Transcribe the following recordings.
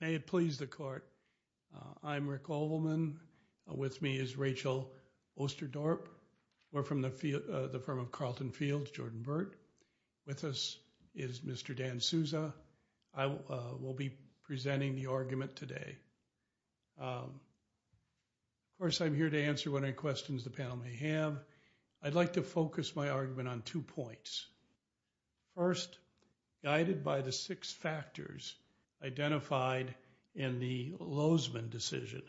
May it please the court. I'm Rick Olman. With me is Rachel Osterdorp. We're from the firm of Carleton Field, Jordan Burt. With us is Mr. Dan Souza. I will be presenting the argument today. Of course, I'm here to answer whatever questions the panel may have. I'd like to focus my argument on two points. First, guided by the six factors identified in the Lozman decision,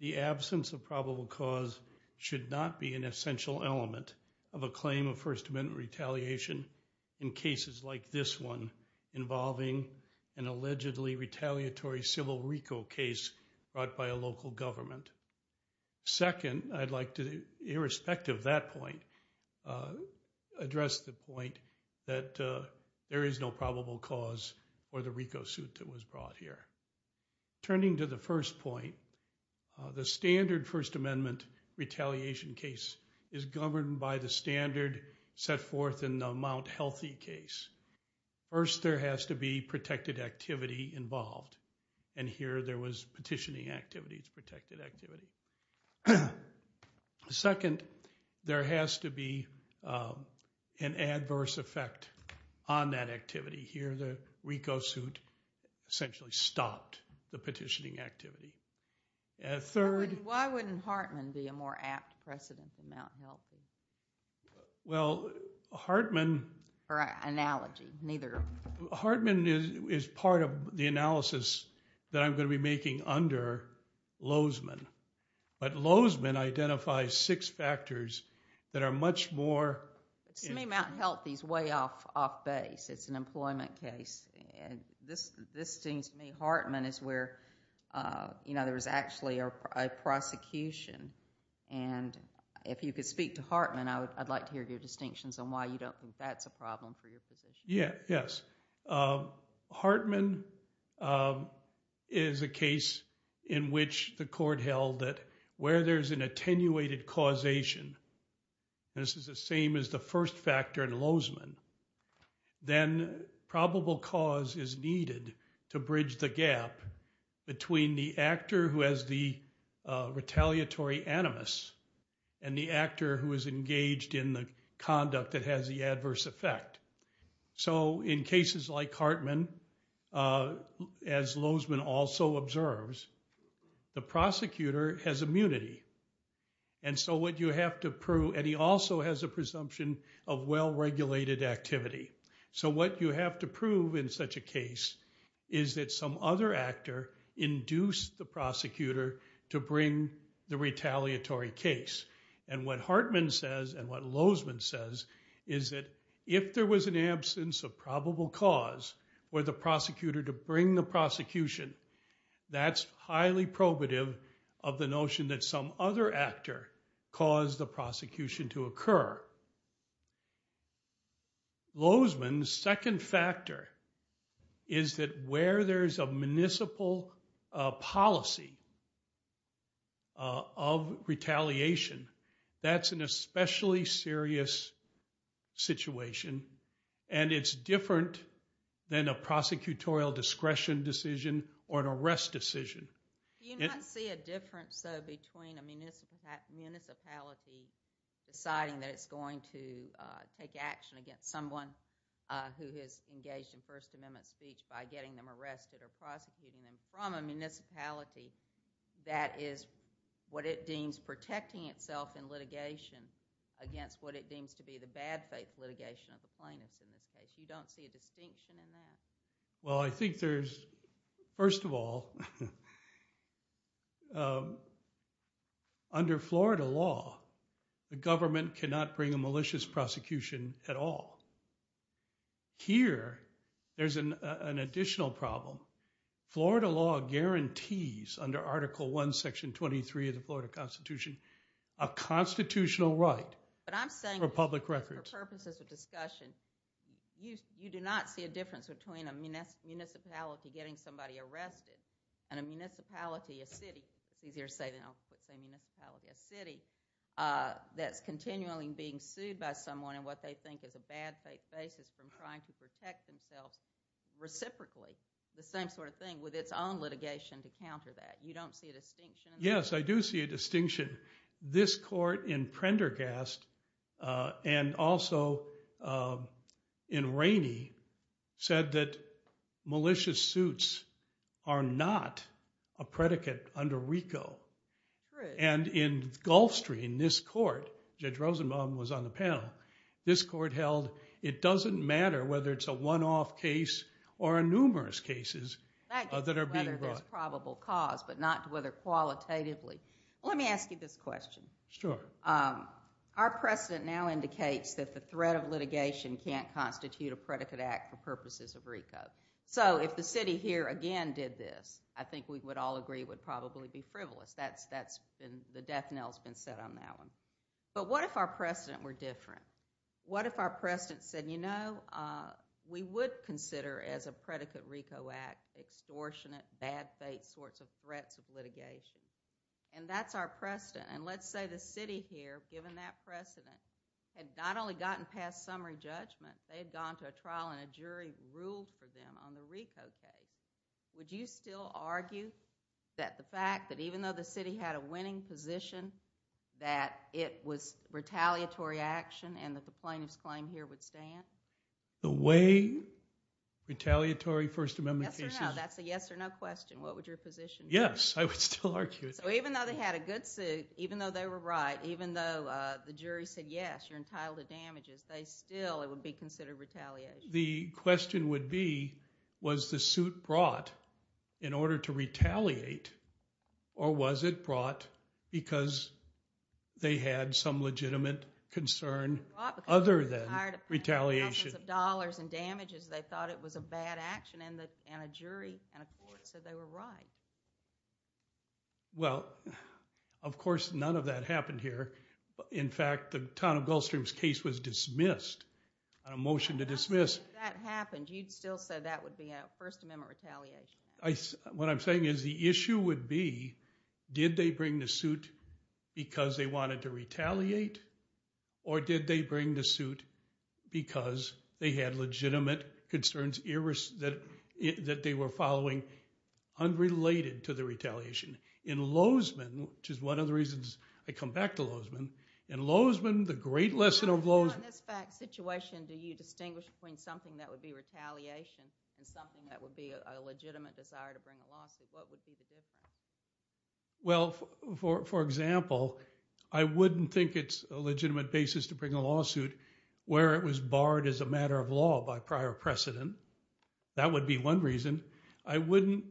the absence of probable cause should not be an essential element of a claim of First Amendment retaliation in cases like this one involving an allegedly retaliatory civil RICO case brought by a local government. Second, I'd like to, irrespective of that point, address the point that there is no probable cause for the RICO suit that was brought here. Turning to the first point, the standard First Amendment retaliation case is governed by the standard set forth in the Mount Healthy case. First, there has to be protected activity involved. And here there was petitioning activity. It's protected activity. Second, there has to be an adverse effect on that activity. Here the RICO suit essentially stopped the petitioning activity. Why wouldn't Hartman be a more apt precedent than Mount Healthy? Well, Hartman is part of the analysis that I'm going to be making under Lozman. But Lozman identifies six factors that are much more... To me, Mount Healthy is way off base. It's an employment case. This seems to me Hartman is where there was actually a prosecution. And if you could speak to Hartman, I'd like to hear your distinctions on why you don't think that's a problem for your position. Yes. Hartman is a case in which the court held that where there's an attenuated causation, this is the same as the first factor in Lozman, then probable cause is needed to bridge the gap between the actor who has the retaliatory animus and the actor who is engaged in the conduct that has the adverse effect. So in cases like Hartman, as Lozman also observes, the prosecutor has immunity. And he also has a presumption of well-regulated activity. So what you have to prove in such a case is that some other actor induced the prosecutor to bring the retaliatory case. And what Hartman says and what Lozman says is that if there was an absence of probable cause for the prosecutor to bring the prosecution, that's highly probative of the notion that some other actor caused the prosecution to occur. However, Lozman's second factor is that where there's a municipal policy of retaliation, that's an especially serious situation. And it's different than a prosecutorial discretion decision or an arrest decision. Do you not see a difference, though, between a municipality deciding that it's going to take action against someone who has engaged in First Amendment speech by getting them arrested or prosecuting them from a municipality that is what it deems protecting itself in litigation against what it deems to be the bad faith litigation of the plaintiffs in this case? You don't see a distinction in that? Well, I think there's, first of all, under Florida law, the government cannot bring a malicious prosecution at all. Here, there's an additional problem. Florida law guarantees under Article I, Section 23 of the Florida Constitution, a constitutional right for public record. For purposes of discussion, you do not see a difference between a municipality getting somebody arrested and a municipality, a city, it's easier to say than I'll say municipality, a city that's continually being sued by someone and what they think is a bad faith basis from trying to protect themselves reciprocally. The same sort of thing with its own litigation to counter that. You don't see a distinction in that? And also, in Rainey, said that malicious suits are not a predicate under RICO. And in Gulfstream, this court, Judge Rosenbaum was on the panel, this court held it doesn't matter whether it's a one-off case or a numerous cases that are being brought. Whether there's probable cause, but not whether qualitatively. Let me ask you this question. Sure. Our precedent now indicates that the threat of litigation can't constitute a predicate act for purposes of RICO. So if the city here again did this, I think we would all agree would probably be frivolous. That's been, the death knell's been set on that one. But what if our precedent were different? What if our precedent said, you know, we would consider as a predicate RICO act extortionate, bad faith sorts of threats of litigation. And that's our precedent. And let's say the city here, given that precedent, had not only gotten past summary judgment, they had gone to a trial and a jury ruled for them on the RICO case. Would you still argue that the fact that even though the city had a winning position, that it was retaliatory action and that the plaintiff's claim here would stand? The way retaliatory First Amendment cases... Yes or no. That's a yes or no question. What would your position be? Yes, I would still argue it. So even though they had a good suit, even though they were right, even though the jury said, yes, you're entitled to damages, they still, it would be considered retaliation. The question would be, was the suit brought in order to retaliate, or was it brought because they had some legitimate concern other than retaliation? They thought it was a bad action, and a jury and a court said they were right. Well, of course, none of that happened here. In fact, the town of Gulfstream's case was dismissed. On a motion to dismiss... If that happened, you'd still say that would be a First Amendment retaliation. What I'm saying is the issue would be, did they bring the suit because they wanted to retaliate, or did they bring the suit because they had legitimate concerns that they were following unrelated to the retaliation? In Lozman, which is one of the reasons I come back to Lozman, in Lozman, the great lesson of Lozman... On this fact situation, do you distinguish between something that would be retaliation and something that would be a legitimate desire to bring a lawsuit? What would be the difference? Well, for example, I wouldn't think it's a legitimate basis to bring a lawsuit where it was barred as a matter of law by prior precedent. That would be one reason. I wouldn't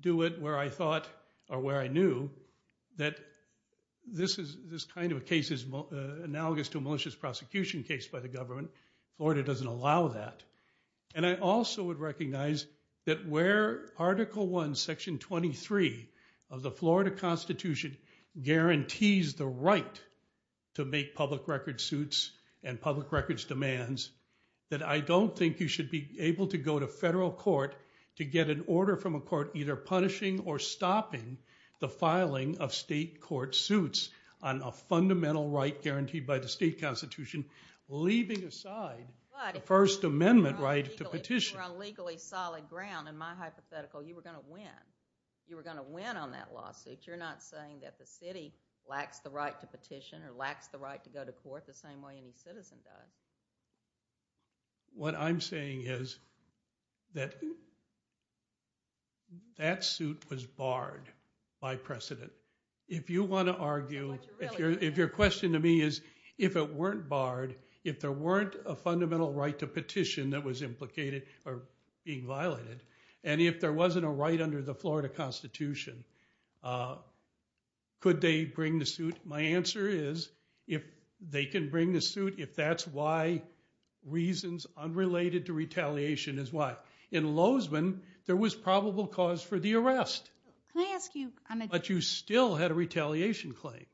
do it where I thought or where I knew that this kind of a case is analogous to a malicious prosecution case by the government. Florida doesn't allow that. And I also would recognize that where Article I, Section 23 of the Florida Constitution guarantees the right to make public record suits and public records demands, that I don't think you should be able to go to federal court to get an order from a court either punishing or stopping the filing of state court suits on a fundamental right to petition. If you were on legally solid ground, in my hypothetical, you were going to win. You were going to win on that lawsuit. You're not saying that the city lacks the right to petition or lacks the right to go to court the same way any citizen does. What I'm saying is that that suit was barred by precedent. If you want to argue, if your question to me is, if it weren't barred, if there weren't a fundamental right to petition that was implicated or being violated, and if there wasn't a right under the Florida Constitution, could they bring the suit? My answer is, if they can bring the suit, if that's why reasons unrelated to retaliation is why. In Lozman, there was probable cause for the arrest. But you still had a retaliation claim.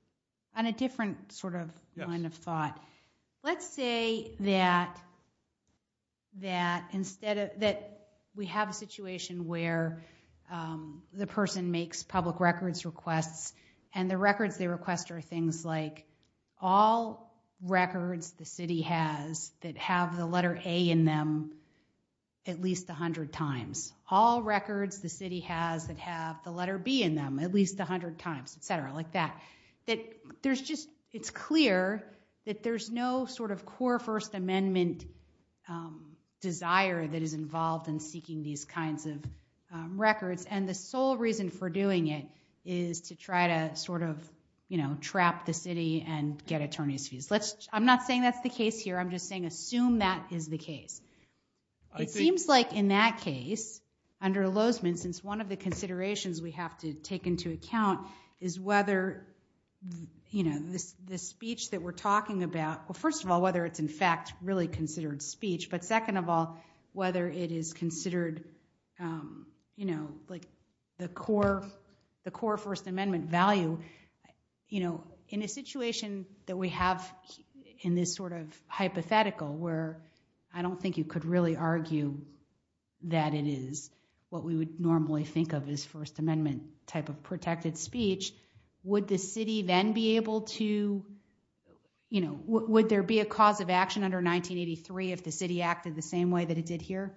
On a different sort of line of thought, let's say that we have a situation where the person makes public records requests, and the records they request are things like all records the city has that have the letter A in them at least 100 times, all records the city has that have the letter B in them at least 100 times, et cetera, like that, that it's clear that there's no sort of core First Amendment desire that is involved in seeking these kinds of records. And the sole reason for doing it is to try to sort of trap the city and get attorney's fees. I'm not saying that's the case here. I'm just saying assume that is the case. It seems like in that case, under Lozman, since one of the considerations we have to take into account is whether the speech that we're talking about, well, first of all, whether it's in fact really considered speech, but second of all, whether it is considered the core First Amendment value. In a situation that we have in this sort of hypothetical, where I don't think you could really argue that it is what we would normally think of as First Amendment type of protected speech, would the city then be able to, you know, would there be a cause of action under 1983 if the city acted the same way that it did here?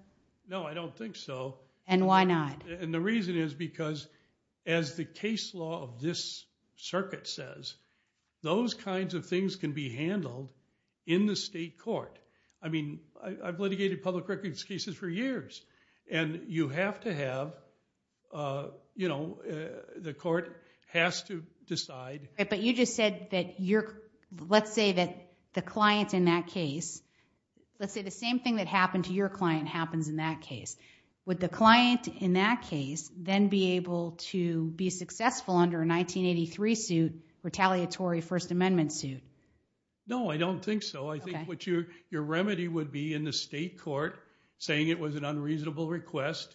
No, I don't think so. And why not? And the reason is because as the case law of this circuit says, those kinds of things can be handled in the state court. I mean, I've litigated public records cases for years, and you have to have, you know, the court has to decide. But you just said that you're, let's say that the client in that case, let's say the same thing that happened to your client happens in that case. Would the client in that case then be able to be successful under a 1983 suit, retaliatory First Amendment suit? No, I don't think so. I think what your remedy would be in the state court, saying it was an unreasonable request,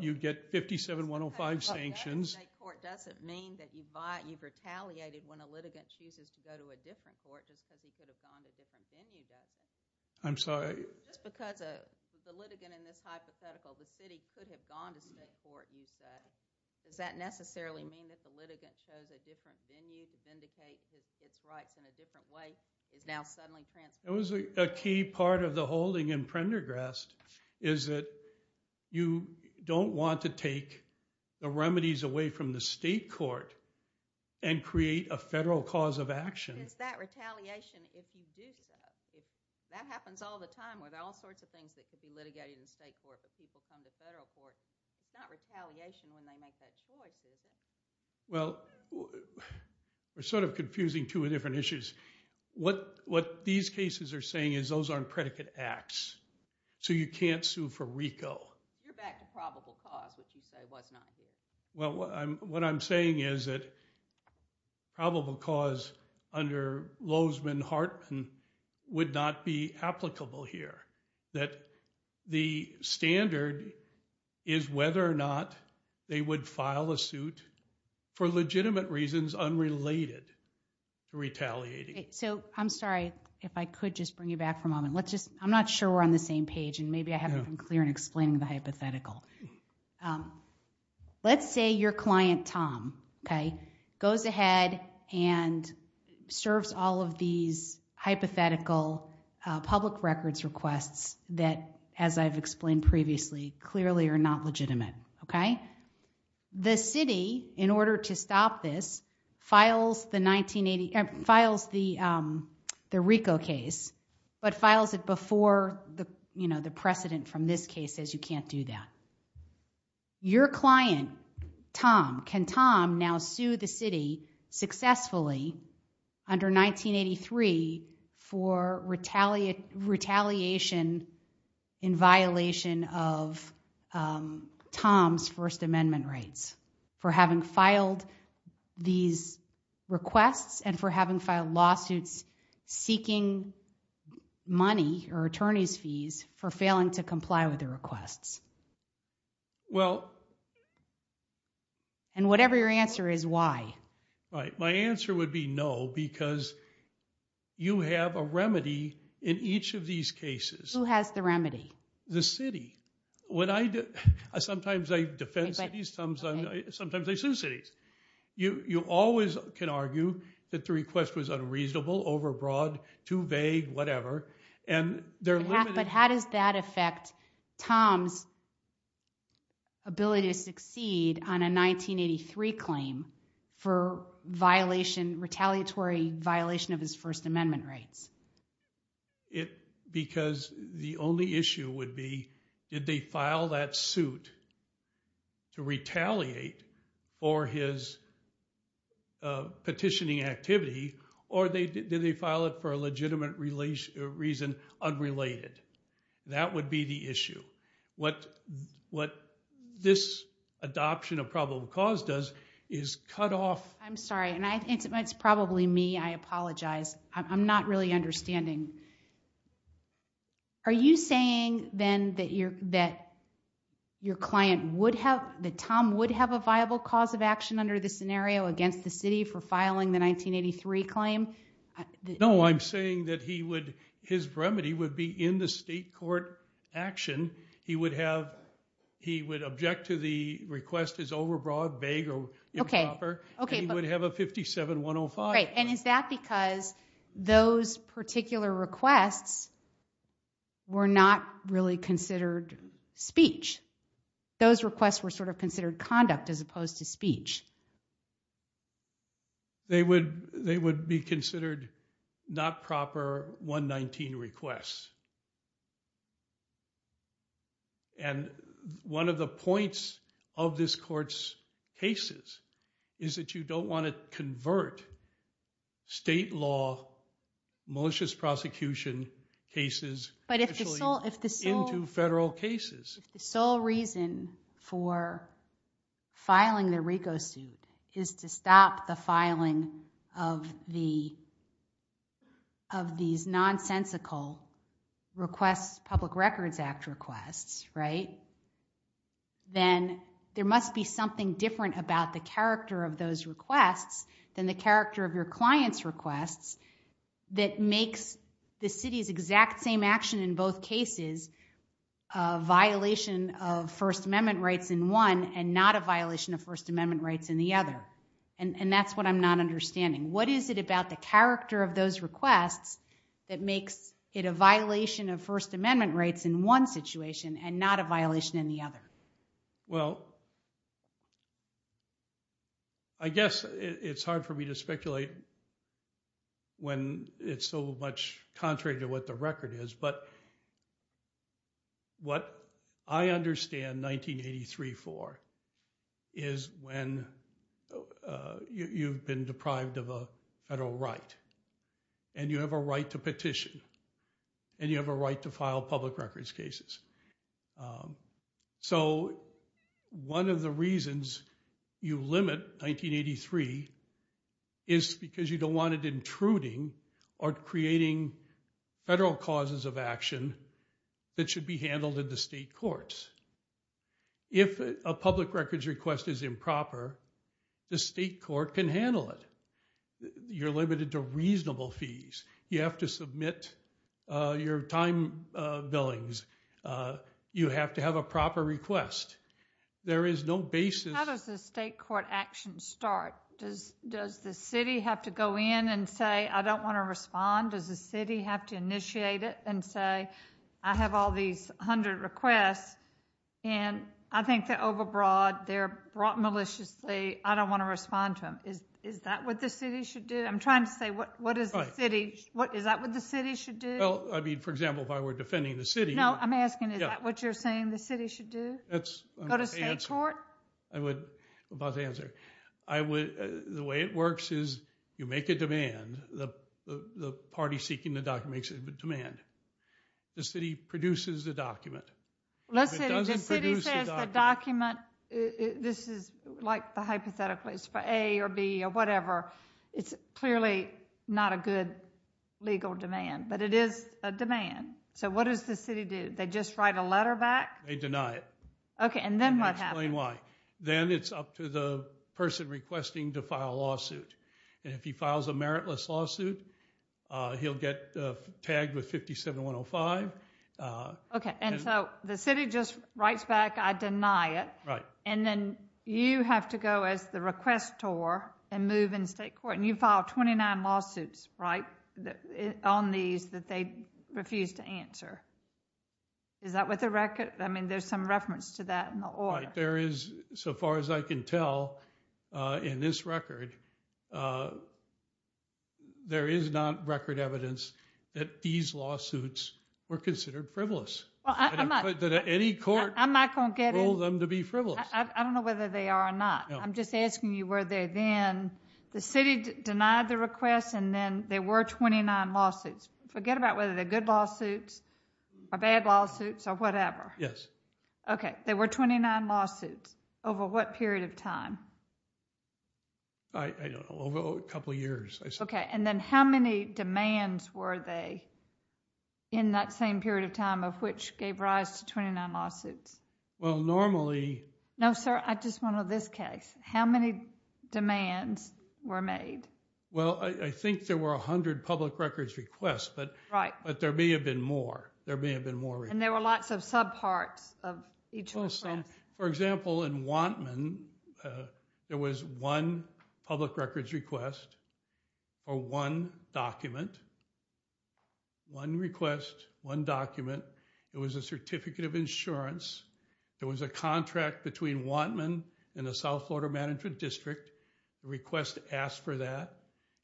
you'd get 57-105 sanctions. The state court doesn't mean that you've retaliated when a litigant chooses to go to a different court just because he could have gone to a different venue, does it? I'm sorry? Just because the litigant in this hypothetical, the city, could have gone to state court, you said, does that necessarily mean that the litigant chose a different venue to vindicate its rights in a different way That was a key part of the holding in Prendergrast, is that you don't want to take the remedies away from the state court and create a federal cause of action. It's that retaliation if you do so. That happens all the time with all sorts of things that could be litigated in state court, but people come to federal court. It's not retaliation when they make that choice, is it? Well, we're sort of confusing two different issues. What these cases are saying is those aren't predicate acts. So you can't sue for RICO. You're back to probable cause, which you say was not here. Well, what I'm saying is that probable cause under Lozman-Hartman would not be applicable here. The standard is whether or not they would file a suit for legitimate reasons unrelated to retaliating. So I'm sorry if I could just bring you back for a moment. I'm not sure we're on the same page, and maybe I haven't been clear in explaining the hypothetical. Let's say your client, Tom, goes ahead and serves all of these hypothetical public records requests that, as I've explained previously, clearly are not legitimate. The city, in order to stop this, files the RICO case, but files it before the precedent from this case says you can't do that. Your client, Tom, can Tom now sue the city successfully under 1983 for retaliation in violation of Tom's First Amendment rights for having filed these requests and for having filed lawsuits seeking money or attorney's fees for failing to comply with the requests? And whatever your answer is, why? My answer would be no, because you have a remedy in each of these cases. Who has the remedy? The city. Sometimes I defend cities. Sometimes I sue cities. You always can argue that the request was unreasonable, overbroad, too vague, whatever. But how does that affect Tom's ability to succeed on a 1983 claim for retaliatory violation of his First Amendment rights? Because the only issue would be did they file that suit to retaliate for his petitioning activity or did they file it for a legitimate reason unrelated? That would be the issue. What this adoption of probable cause does is cut off... I'm sorry. It's probably me. I apologize. I'm not really understanding. Are you saying, then, that your client would have... that Tom would have a viable cause of action under this scenario against the city for filing the 1983 claim? No, I'm saying that his remedy would be in the state court action. He would object to the request as overbroad, vague, or improper, and he would have a 57-105. Great. And is that because those particular requests were not really considered speech? Those requests were sort of considered conduct as opposed to speech. They would be considered not proper 119 requests. And one of the points of this court's cases is that you don't want to convert state law, malicious prosecution cases, into federal cases. But if the sole reason for filing the RICO suit is to stop the filing of these nonsensical requests, Public Records Act requests, right, then there must be something different about the character of those requests than the character of your client's requests that makes the city's exact same action in both cases a violation of First Amendment rights in one and not a violation of First Amendment rights in the other. And that's what I'm not understanding. What is it about the character of those requests that makes it a violation of First Amendment rights in one situation and not a violation in the other? Well, I guess it's hard for me to speculate when it's so much contrary to what the record is, but what I understand 1983 for is when you've been deprived of a federal right and you have a right to petition and you have a right to file public records cases. So one of the reasons you limit 1983 is because you don't want it intruding or creating federal causes of action that should be handled in the state courts. If a public records request is improper, the state court can handle it. You're limited to reasonable fees. You have to submit your time billings. You have to have a proper request. There is no basis... How does the state court action start? Does the city have to go in and say, I don't want to respond? Does the city have to initiate it and say, I have all these 100 requests and I think they're overbroad, they're brought maliciously, I don't want to respond to them. Is that what the city should do? I'm trying to say, is that what the city should do? For example, if I were defending the city... No, I'm asking, is that what you're saying the city should do? Go to state court? I'm about to answer. The way it works is you make a demand. The party seeking the document makes a demand. The city produces the document. If it doesn't produce the document... The city says the document, this is like the hypothetical, it's for A or B or whatever, it's clearly not a good legal demand, but it is a demand. So what does the city do? They just write a letter back? They deny it. Okay, and then what happens? I'll explain why. Then it's up to the person requesting to file a lawsuit. If he files a meritless lawsuit, he'll get tagged with 57-105. Okay, and so the city just writes back, I deny it, and then you have to go as the requestor and move in state court, and you file 29 lawsuits on these that they refuse to answer. Is that what the record... I mean, there's some reference to that in the order. There is, so far as I can tell in this record, there is not record evidence that these lawsuits were considered frivolous. Any court ruled them to be frivolous. I don't know whether they are or not. I'm just asking you whether then the city denied the request and then there were 29 lawsuits. Forget about whether they're good lawsuits or bad lawsuits or whatever. Yes. Okay, there were 29 lawsuits. Over what period of time? I don't know. Over a couple years, I suppose. Okay, and then how many demands were there in that same period of time of which gave rise to 29 lawsuits? Well, normally... No, sir, I just want to know this case. How many demands were made? Well, I think there were 100 public records requests, but there may have been more. There may have been more requests. And there were lots of subparts of each request. For example, in Wantman, there was one public records request for one document. One request, one document. It was a certificate of insurance. There was a contract between Wantman and the South Florida Management District. The request asked for that.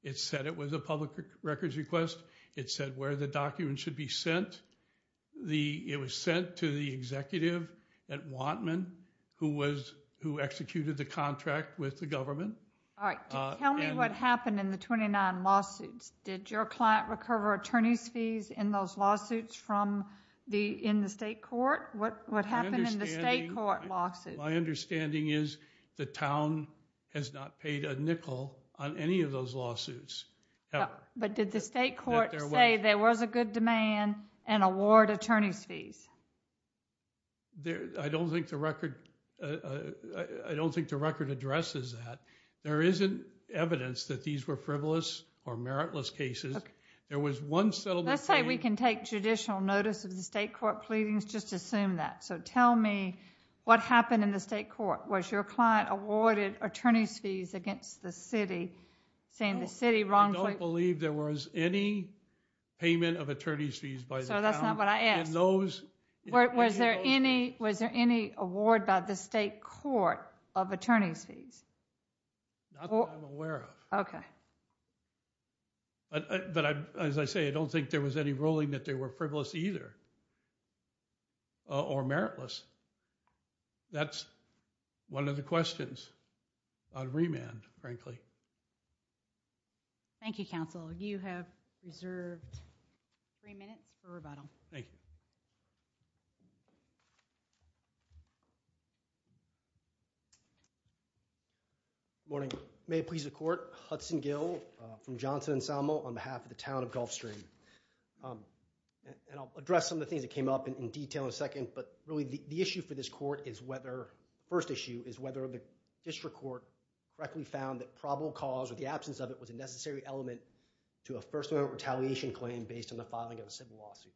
It said it was a public records request. It said where the document should be sent. It was sent to the executive at Wantman who executed the contract with the government. All right, tell me what happened in the 29 lawsuits. Did your client recover attorney's fees in those lawsuits in the state court? What happened in the state court lawsuit? My understanding is the town has not paid a nickel on any of those lawsuits ever. But did the state court say there was a good demand and award attorney's fees? I don't think the record addresses that. There isn't evidence that these were frivolous or meritless cases. Let's say we can take judicial notice of the state court pleadings. Just assume that. So tell me what happened in the state court. Was your client awarded attorney's fees against the city? I don't believe there was any payment of attorney's fees by the town. So that's not what I asked. Was there any award by the state court of attorney's fees? Not that I'm aware of. Okay. But as I say, I don't think there was any ruling that they were frivolous either or meritless. That's one of the questions on remand, frankly. Thank you, counsel. You have reserved three minutes for rebuttal. Thank you. Good morning. May it please the court. Hudson Gill from Johnson & Salmo on behalf of the town of Gulfstream. And I'll address some of the things that came up in detail in a second. But really, the issue for this court is whether, the first issue is whether the district court correctly found that probable cause or the absence of it was a necessary element to a first amendment retaliation claim based on the filing of a civil lawsuit.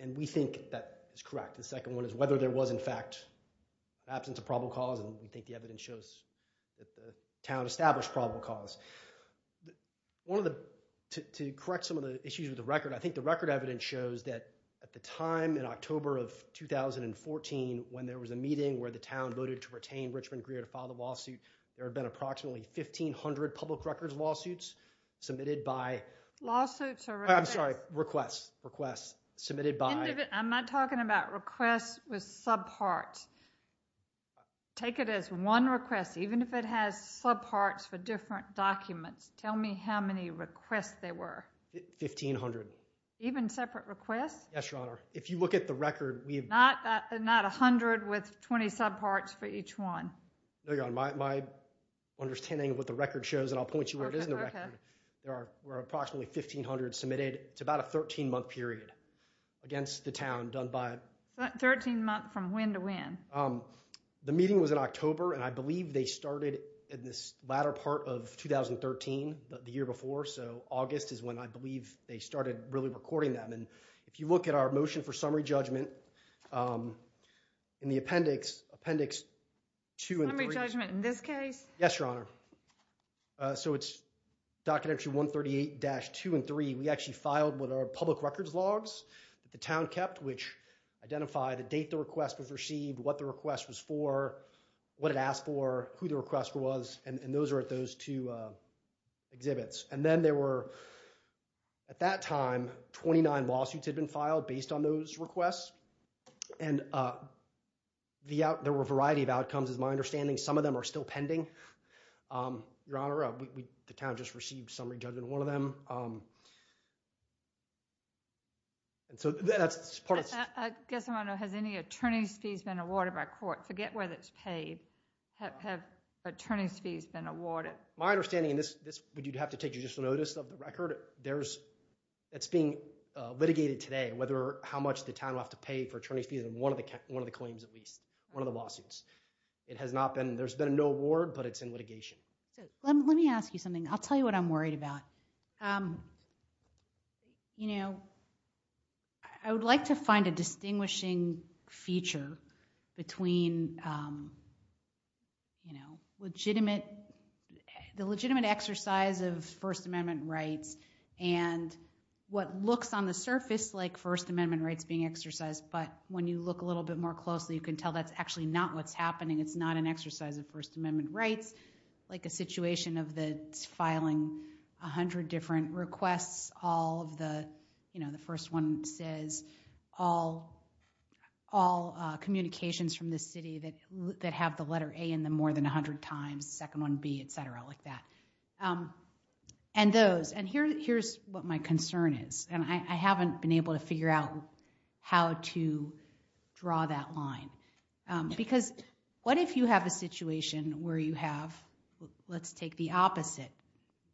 And we think that is correct. The second one is whether there was, in fact, absence of probable cause. And we think the evidence shows that the town established probable cause. One of the, to correct some of the issues with the record, I think the record evidence shows that at the time in October of 2014, when there was a meeting where the town voted to retain Richmond Greer to file the lawsuit, there had been approximately 1,500 public records lawsuits submitted by Lawsuits or requests? I'm sorry. Requests. Requests submitted by I'm not talking about requests with subparts. Take it as one request. Even if it has subparts for different documents, tell me how many requests there were. 1,500. Even separate requests? Yes, Your Honor. If you look at the record, we have Not 100 with 20 subparts for each one. No, Your Honor. My understanding of what the record shows, and I'll point you where it is in the record, there were approximately 1,500 submitted. It's about a 13-month period against the town done by 13 months from when to when? The meeting was in October, and I believe they started in this latter part of 2013, the year before, so August is when I believe they started really recording them. And if you look at our motion for summary judgment in the appendix, appendix 2 and 3 Summary judgment in this case? Yes, Your Honor. So it's Document 138-2 and 3. We actually filed what are public records logs that the town kept, which identify the date the request was received, what the request was for, what it asked for, who the request was, and those are at those two exhibits. And then there were, at that time, 29 lawsuits had been filed based on those requests, and there were a variety of outcomes. As far as my understanding, some of them are still pending. Your Honor, the town just received summary judgment in one of them. I guess I want to know, has any attorney's fees been awarded by court? Forget whether it's paid. Have attorney's fees been awarded? My understanding, and this would have to take judicial notice of the record, it's being litigated today whether how much the town will have to pay for attorney's fees in one of the claims at least, one of the lawsuits. It has not been, there's been no award, but it's in litigation. Let me ask you something. I'll tell you what I'm worried about. You know, I would like to find a distinguishing feature between, you know, legitimate, the legitimate exercise of First Amendment rights and what looks on the surface like First Amendment rights being exercised, but when you look a little bit more closely, you can tell that's actually not what's happening. It's not an exercise of First Amendment rights, like a situation of the filing 100 different requests, all of the, you know, the first one says all communications from the city that have the letter A in them more than 100 times, second one B, et cetera, like that. And those, and here's what my concern is, and I haven't been able to figure out how to draw that line, because what if you have a situation where you have, let's take the opposite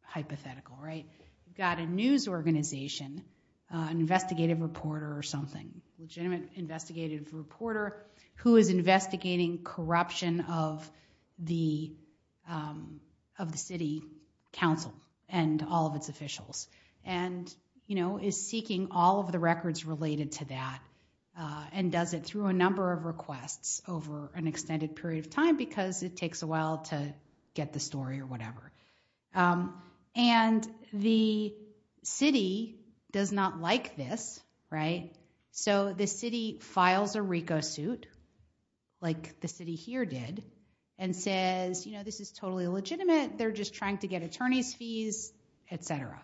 hypothetical, right? You've got a news organization, an investigative reporter or something, legitimate investigative reporter who is investigating corruption of the city council and all of its officials and, you know, is seeking all of the records related to that and does it through a number of requests over an extended period of time because it takes a while to get the story or whatever. And the city does not like this, right? So the city files a RICO suit, like the city here did, and says, you know, this is totally legitimate, they're just trying to get attorney's fees, et cetera.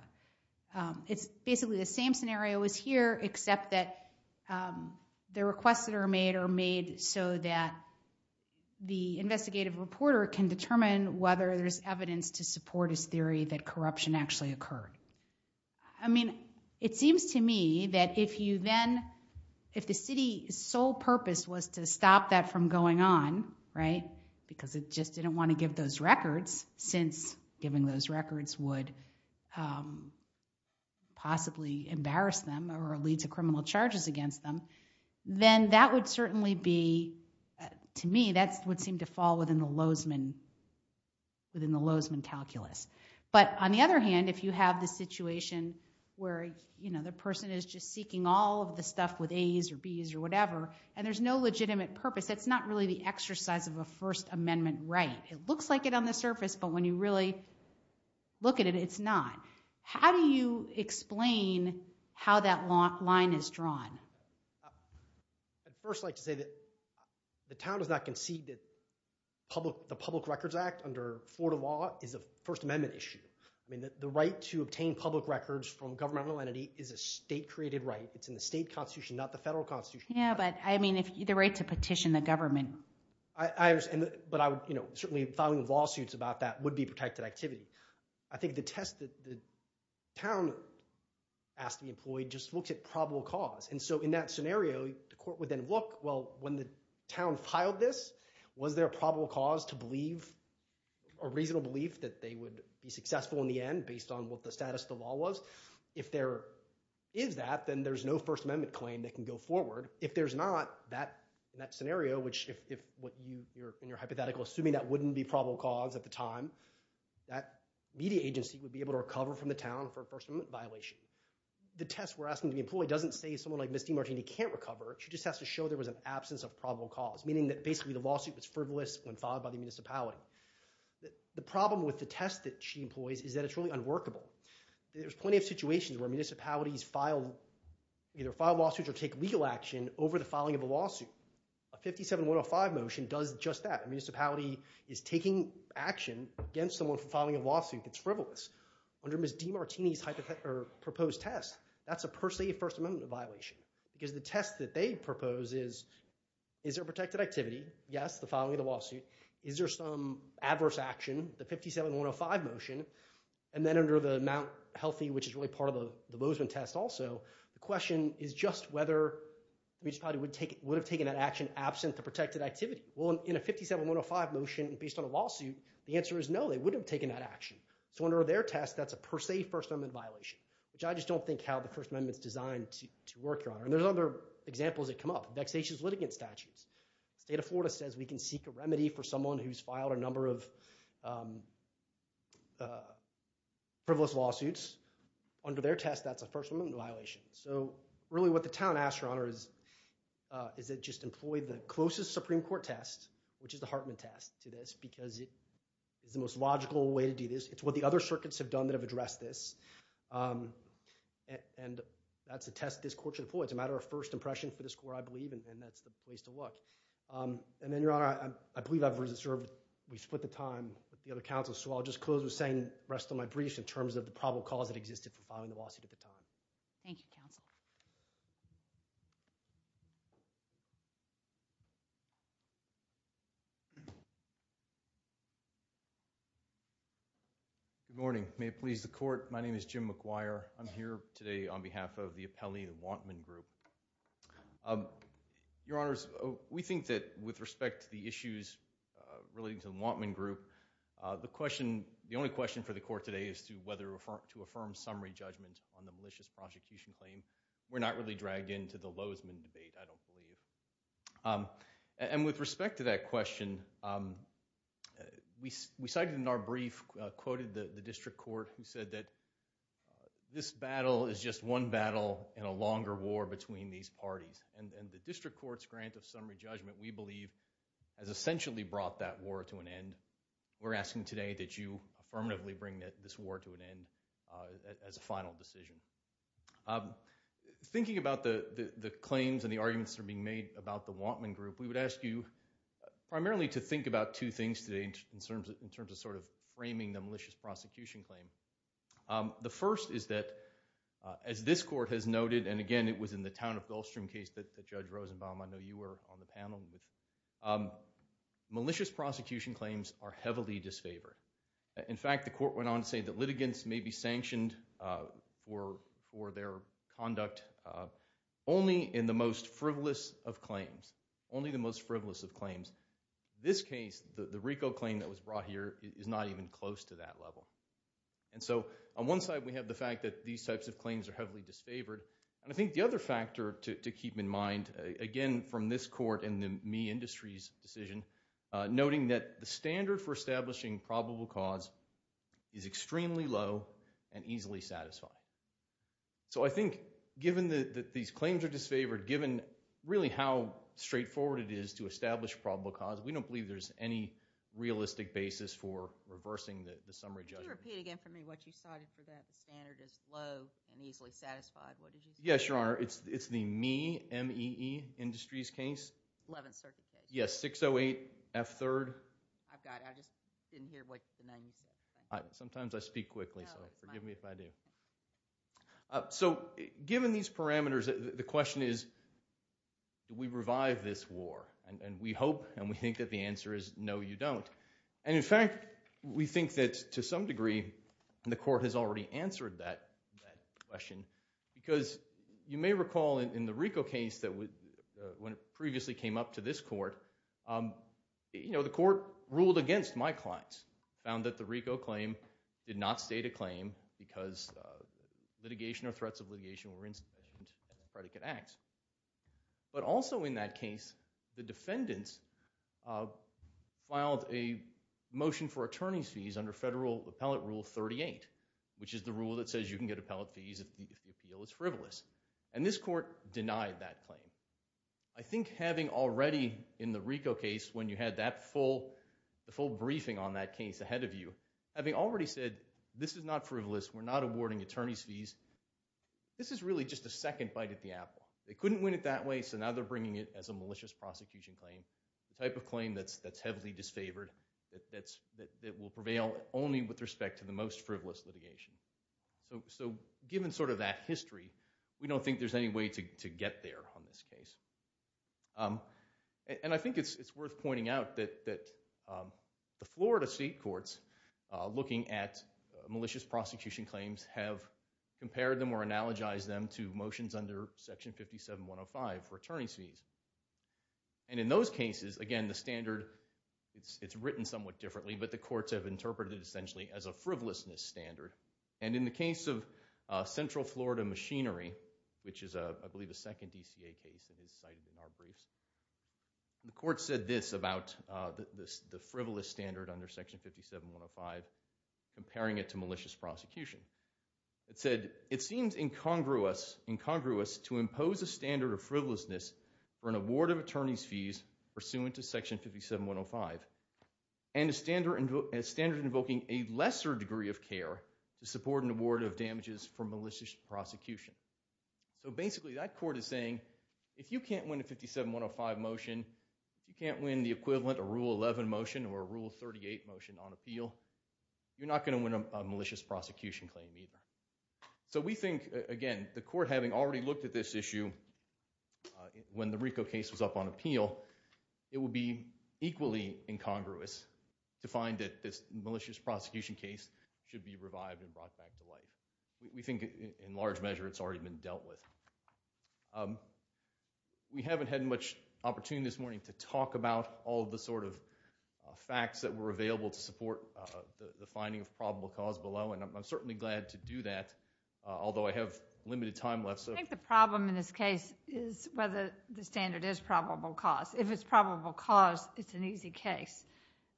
It's basically the same scenario as here, except that the requests that are made are made so that the investigative reporter can determine whether there's evidence to support his theory that corruption actually occurred. I mean, it seems to me that if you then, if the city's sole purpose was to stop that from going on, right, because it just didn't want to give those records since giving those records would possibly embarrass them or lead to criminal charges against them, then that would certainly be, to me, that would seem to fall within the Lozeman calculus. But on the other hand, if you have the situation where, you know, the person is just seeking all of the stuff with A's or B's or whatever and there's no legitimate purpose, that's not really the exercise of a First Amendment right. It looks like it on the surface, but when you really look at it, it's not. How do you explain how that line is drawn? I'd first like to say that the town does not concede that the Public Records Act under Florida law is a First Amendment issue. I mean, the right to obtain public records from governmental entity is a state-created right. It's in the state constitution, not the federal constitution. Yeah, but I mean, the right to petition the government. But I would, you know, certainly filing lawsuits about that would be protected activity. I think the test that the town asked to be employed just looks at probable cause. And so in that scenario, the court would then look, well, when the town filed this, was there a probable cause to believe or reasonable belief that they would be successful in the end based on what the status of the law was? If there is that, then there's no First Amendment claim that can go forward. If there's not, in that scenario, which if what you're in your hypothetical assuming that wouldn't be probable cause at the time, that media agency would be able to recover from the town for a First Amendment violation. The test we're asking to be employed doesn't say someone like Ms. DiMartini can't recover. She just has to show there was an absence of probable cause, meaning that basically the lawsuit was frivolous when filed by the municipality. The problem with the test that she employs is that it's really unworkable. There's plenty of situations where municipalities either file lawsuits or take legal action over the filing of a lawsuit. A 57-105 motion does just that. A municipality is taking action against someone for filing a lawsuit. It's frivolous. Under Ms. DiMartini's proposed test, that's a per se First Amendment violation. Because the test that they propose is, is there protected activity? Yes, the filing of the lawsuit. Is there some adverse action? The 57-105 motion. And then under the Mount Healthy, which is really part of the Bozeman test also, the question is just whether the municipality would have taken that action absent the protected activity. Well, in a 57-105 motion based on a lawsuit, the answer is no, they wouldn't have taken that action. So under their test, that's a per se First Amendment violation, which I just don't think how the First Amendment is designed to work, Your Honor. And there's other examples that come up. Vexatious litigant statutes. The state of Florida says we can seek a remedy for someone who's filed a number of frivolous lawsuits. Under their test, that's a First Amendment violation. So really what the town asks, Your Honor, is that just employ the closest Supreme Court test, which is the Hartman test to this, because it is the most logical way to do this. It's what the other circuits have done that have addressed this. And that's a test this court should employ. It's a matter of first impression for this court, I believe, and that's the place to look. And then, Your Honor, I believe I've reserved, we split the time with the other counsels, so I'll just close with saying the rest of my briefs in terms of the probable cause that existed for filing the lawsuit at the time. Thank you, counsel. Good morning. May it please the court. My name is Jim McGuire. I'm here today on behalf of the appellee, the Wantman Group. Your Honors, we think that with respect to the issues relating to the Wantman Group, the only question for the court today is to affirm summary judgment on the malicious prosecution claim. We're not really dragged into the Lozman debate, I don't believe. And with respect to that question, we cited in our brief, quoted the district court who said that this battle is just one battle in a longer war between these parties. And the district court's grant of summary judgment, we believe, has essentially brought that war to an end. We're asking today that you affirmatively bring this war to an end as a final decision. Thinking about the claims and the arguments that are being made about the Wantman Group, we would ask you primarily to think about two things today in terms of sort of framing the malicious prosecution claim. The first is that, as this court has noted, and again it was in the town of Gulfstream case that Judge Rosenbaum, I know you were on the panel, malicious prosecution claims are heavily disfavored. In fact, the court went on to say that litigants may be sanctioned for their conduct only in the most frivolous of claims, only the most frivolous of claims. In this case, the RICO claim that was brought here is not even close to that level. And so on one side we have the fact that these types of claims are heavily disfavored. And I think the other factor to keep in mind, again from this court and the Mee Industries decision, noting that the standard for establishing probable cause is extremely low and easily satisfied. So I think given that these claims are disfavored, given really how straightforward it is to establish probable cause, we don't believe there's any realistic basis for reversing the summary judgment. Can you repeat again for me what you cited for that? The standard is low and easily satisfied. What did you say? Yes, Your Honor. It's the Mee, M-E-E Industries case. Eleventh Circuit case. Yes, 608 F-3rd. I've got it. I just didn't hear what the name said. Sometimes I speak quickly, so forgive me if I do. So given these parameters, the question is do we revive this war? And we hope and we think that the answer is no, you don't. And in fact, we think that to some degree the court has already answered that question because you may recall in the RICO case when it previously came up to this court, the court ruled against my clients. It found that the RICO claim did not state a claim because litigation or threats of litigation were insubstantiated in the predicate acts. But also in that case, the defendants filed a motion for attorney's fees under Federal Appellate Rule 38, which is the rule that says you can get appellate fees if the appeal is frivolous. And this court denied that claim. I think having already in the RICO case when you had that full briefing on that case ahead of you, having already said this is not frivolous, we're not awarding attorney's fees, this is really just a second bite at the apple. They couldn't win it that way, so now they're bringing it as a malicious prosecution claim, the type of claim that's heavily disfavored, that will prevail only with respect to the most frivolous litigation. So given sort of that history, we don't think there's any way to get there on this case. And I think it's worth pointing out that the Florida state courts looking at malicious prosecution claims have compared them or analogized them to motions under Section 57-105 for attorney's fees. And in those cases, again, the standard, it's written somewhat differently, but the courts have interpreted it essentially as a frivolousness standard. And in the case of Central Florida Machinery, which is I believe a second DCA case that is cited in our briefs, the court said this about the frivolous standard under Section 57-105 comparing it to malicious prosecution. It said, it seems incongruous to impose a standard of frivolousness for an award of attorney's fees pursuant to Section 57-105 and a standard invoking a lesser degree of care to support an award of damages for malicious prosecution. So basically that court is saying, if you can't win a 57-105 motion, if you can't win the equivalent, a Rule 11 motion or a Rule 38 motion on appeal, you're not going to win a malicious prosecution claim either. So we think, again, the court having already looked at this issue when the RICO case was up on appeal, it would be equally incongruous to find that this malicious prosecution case should be revived and brought back to life. We think in large measure it's already been dealt with. We haven't had much opportunity this morning to talk about all the sort of facts that were available to support the finding of probable cause below. And I'm certainly glad to do that, although I have limited time left. I think the problem in this case is whether the standard is probable cause. If it's probable cause, it's an easy case.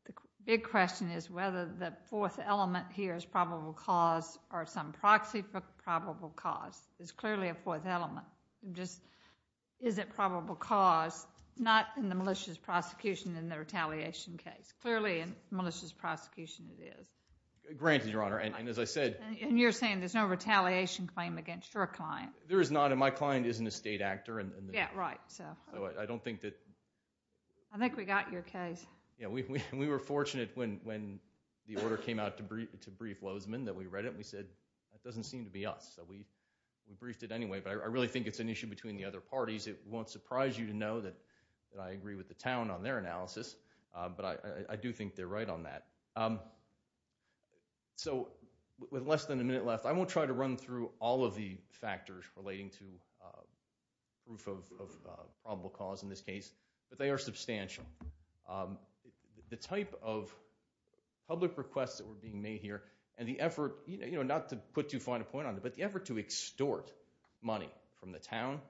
The big question is whether the fourth element here is probable cause or some proxy for probable cause. It's clearly a fourth element. Just is it probable cause? Not in the malicious prosecution in the retaliation case. Clearly in malicious prosecution it is. Granted, Your Honor. And as I said— And you're saying there's no retaliation claim against your client. There is not, and my client is an estate actor. Yeah, right. So I don't think that— I think we got your case. We were fortunate when the order came out to brief Lozeman that we read it, and we said that doesn't seem to be us. So we briefed it anyway, but I really think it's an issue between the other parties. It won't surprise you to know that I agree with the town on their analysis, but I do think they're right on that. So with less than a minute left, I won't try to run through all of the factors relating to proof of probable cause in this case, but they are substantial. The type of public requests that were being made here and the effort, not to put too fine a point on it, but the effort to extort money from the town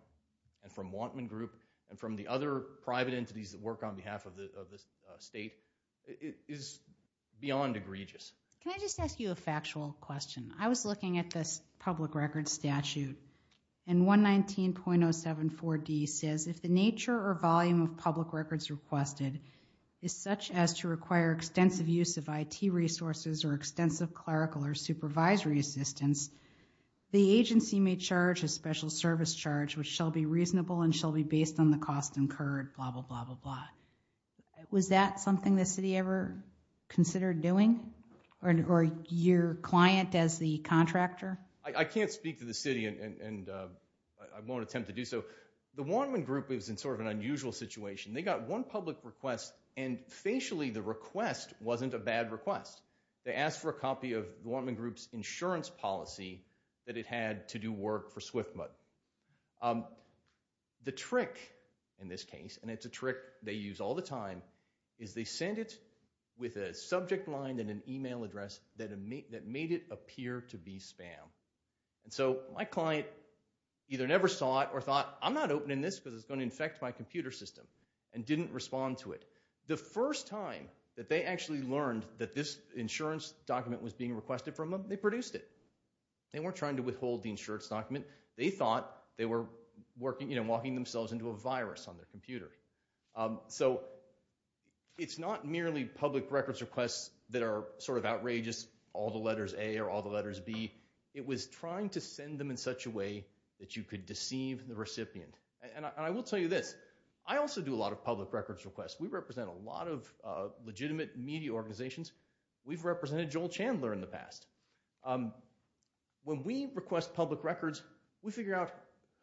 and from Wantman Group and from the other private entities that work on behalf of the state is beyond egregious. Can I just ask you a factual question? I was looking at this public records statute, and 119.074D says, if the nature or volume of public records requested is such as to require extensive use of IT resources or extensive clerical or supervisory assistance, the agency may charge a special service charge which shall be reasonable and shall be based on the cost incurred, blah, blah, blah, blah, blah. Was that something the city ever considered doing, or your client as the contractor? I can't speak to the city, and I won't attempt to do so. The Wantman Group was in sort of an unusual situation. They got one public request, and facially the request wasn't a bad request. They asked for a copy of the Wantman Group's insurance policy that it had to do work for SWFMUD. The trick in this case, and it's a trick they use all the time, is they send it with a subject line and an email address that made it appear to be spam. And so my client either never saw it or thought, I'm not opening this because it's going to infect my computer system, and didn't respond to it. The first time that they actually learned that this insurance document was being requested from them, they produced it. They weren't trying to withhold the insurance document. They thought they were walking themselves into a virus on their computer. So it's not merely public records requests that are sort of outrageous, all the letters A or all the letters B. It was trying to send them in such a way that you could deceive the recipient. And I will tell you this. I also do a lot of public records requests. We represent a lot of legitimate media organizations. We've represented Joel Chandler in the past. When we request public records, we figure out,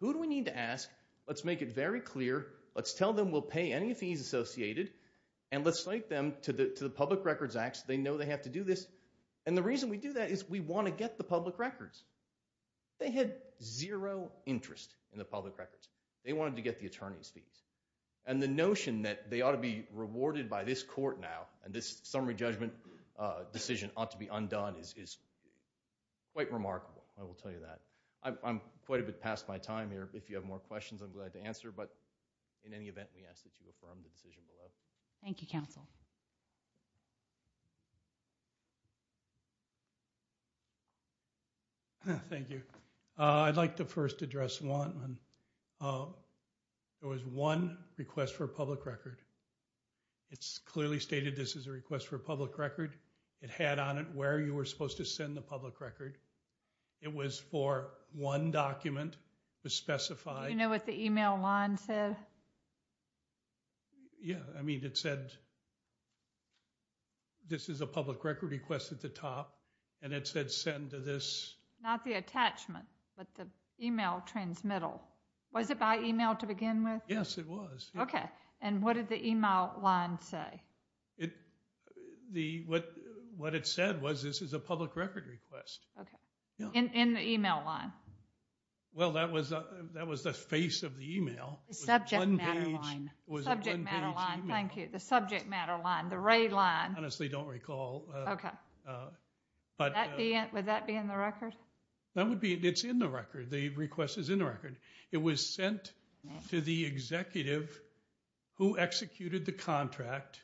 who do we need to ask? Let's make it very clear. Let's tell them we'll pay any fees associated, and let's cite them to the Public Records Act so they know they have to do this. And the reason we do that is we want to get the public records. They had zero interest in the public records. They wanted to get the attorney's fees. And the notion that they ought to be rewarded by this court now and this summary judgment decision ought to be undone is quite remarkable. I will tell you that. I'm quite a bit past my time here. If you have more questions, I'm glad to answer. But in any event, we ask that you affirm the decision below. Thank you, counsel. Thank you. I'd like to first address Wantman. There was one request for a public record. It's clearly stated this is a request for a public record. It had on it where you were supposed to send the public record. It was for one document to specify. Do you know what the email line said? Yeah. I mean, it said this is a public record request at the top, and it said send to this. Not the attachment, but the email transmittal. Was it by email to begin with? Yes, it was. Okay. And what did the email line say? What it said was this is a public record request. Okay. In the email line? Well, that was the face of the email. Subject matter line. Subject matter line. Thank you. The subject matter line, the ray line. I honestly don't recall. Okay. Would that be in the record? That would be. It's in the record. The request is in the record. It was sent to the executive who executed the contract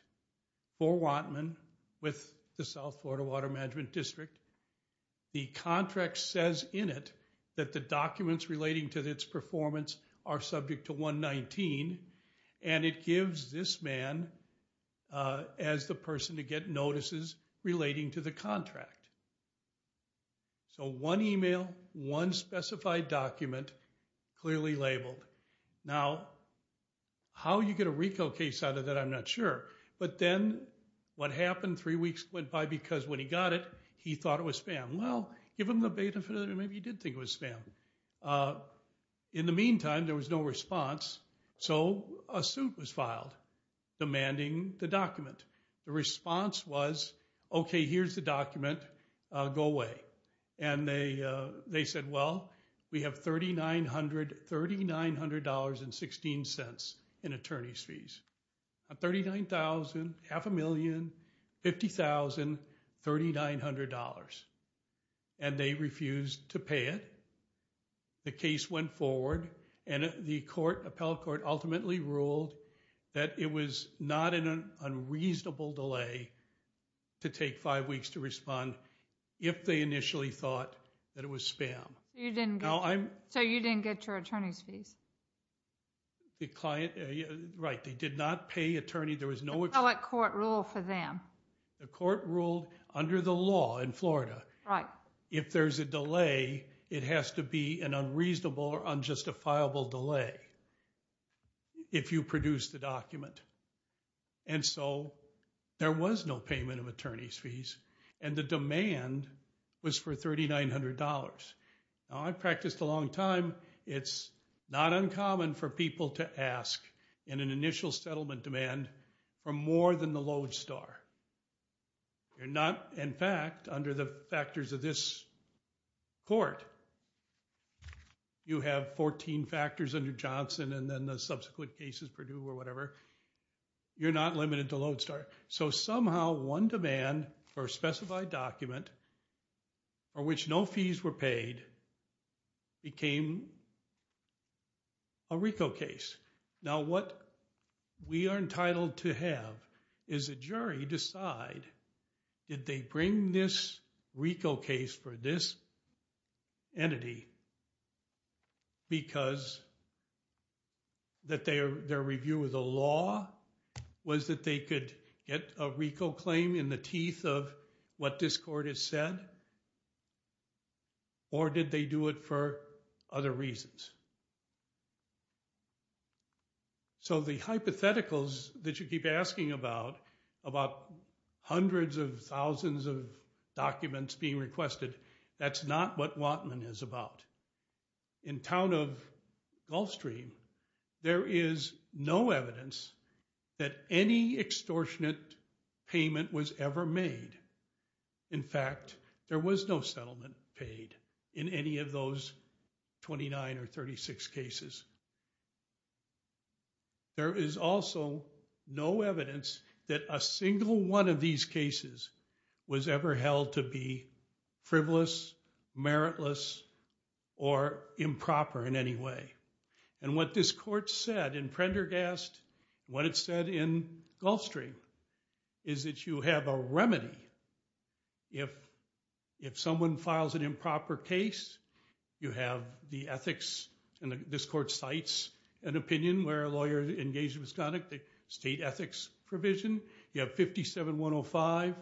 for Wantman with the South Florida Water Management District. The contract says in it that the documents relating to its performance are subject to 119, and it gives this man as the person to get notices relating to the contract. So one email, one specified document, clearly labeled. Now, how you get a RICO case out of that, I'm not sure. But then what happened, three weeks went by, because when he got it, he thought it was spam. Well, give him the beta, maybe he did think it was spam. In the meantime, there was no response. So a suit was filed demanding the document. The response was, okay, here's the document. Go away. And they said, well, we have $3,900.16 in attorney's fees. $39,000, half a million, $50,000, $3,900. And they refused to pay it. The case went forward. And the court, appellate court, ultimately ruled that it was not an unreasonable delay to take five weeks to respond, if they initially thought that it was spam. So you didn't get your attorney's fees? The client, right, they did not pay attorney. The appellate court ruled for them. The court ruled under the law in Florida. If there's a delay, it has to be an unreasonable or unjustifiable delay if you produce the document. And so there was no payment of attorney's fees. And the demand was for $3,900. Now, I practiced a long time. It's not uncommon for people to ask in an initial settlement demand for more than the lodestar. You're not, in fact, under the factors of this court. You have 14 factors under Johnson and then the subsequent cases, Purdue or whatever. You're not limited to lodestar. So somehow one demand for a specified document for which no fees were paid became a RICO case. Now, what we are entitled to have is a jury decide, did they bring this RICO case for this entity because their review of the law was that they could get a RICO claim in the teeth of what this court has said? Or did they do it for other reasons? So the hypotheticals that you keep asking about, about hundreds of thousands of documents being requested, that's not what Wattman is about. In town of Gulfstream, there is no evidence that any extortionate payment was ever made. In fact, there was no settlement paid in any of those 29 or 36 cases. There is also no evidence that a single one of these cases was ever held to be frivolous, meritless, or improper in any way. And what this court said in Prendergast, what it said in Gulfstream, is that you have a remedy. If someone files an improper case, you have the ethics, and this court cites an opinion where a lawyer engaged in misconduct, the state ethics provision. You have 57-105.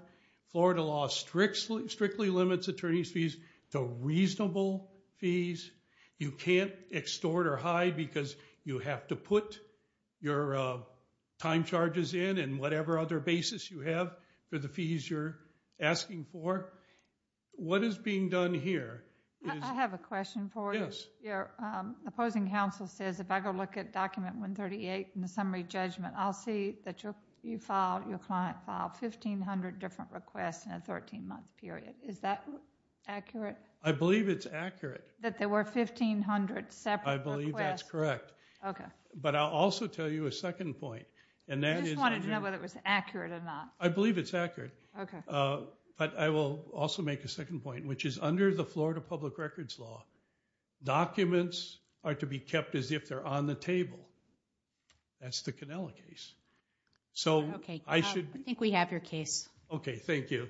Florida law strictly limits attorney's fees to reasonable fees. You can't extort or hide because you have to put your time charges in and whatever other basis you have for the fees you're asking for. What is being done here? I have a question for you. Your opposing counsel says if I go look at document 138 in the summary judgment, I'll see that you filed, your client filed 1,500 different requests in a 13-month period. Is that accurate? I believe it's accurate. That there were 1,500 separate requests? I believe that's correct. Okay. But I'll also tell you a second point. You just wanted to know whether it was accurate or not. I believe it's accurate. Okay. But I will also make a second point, which is under the Florida public records law, documents are to be kept as if they're on the table. That's the Canela case. Okay. I think we have your case. Okay. Thank you. All right.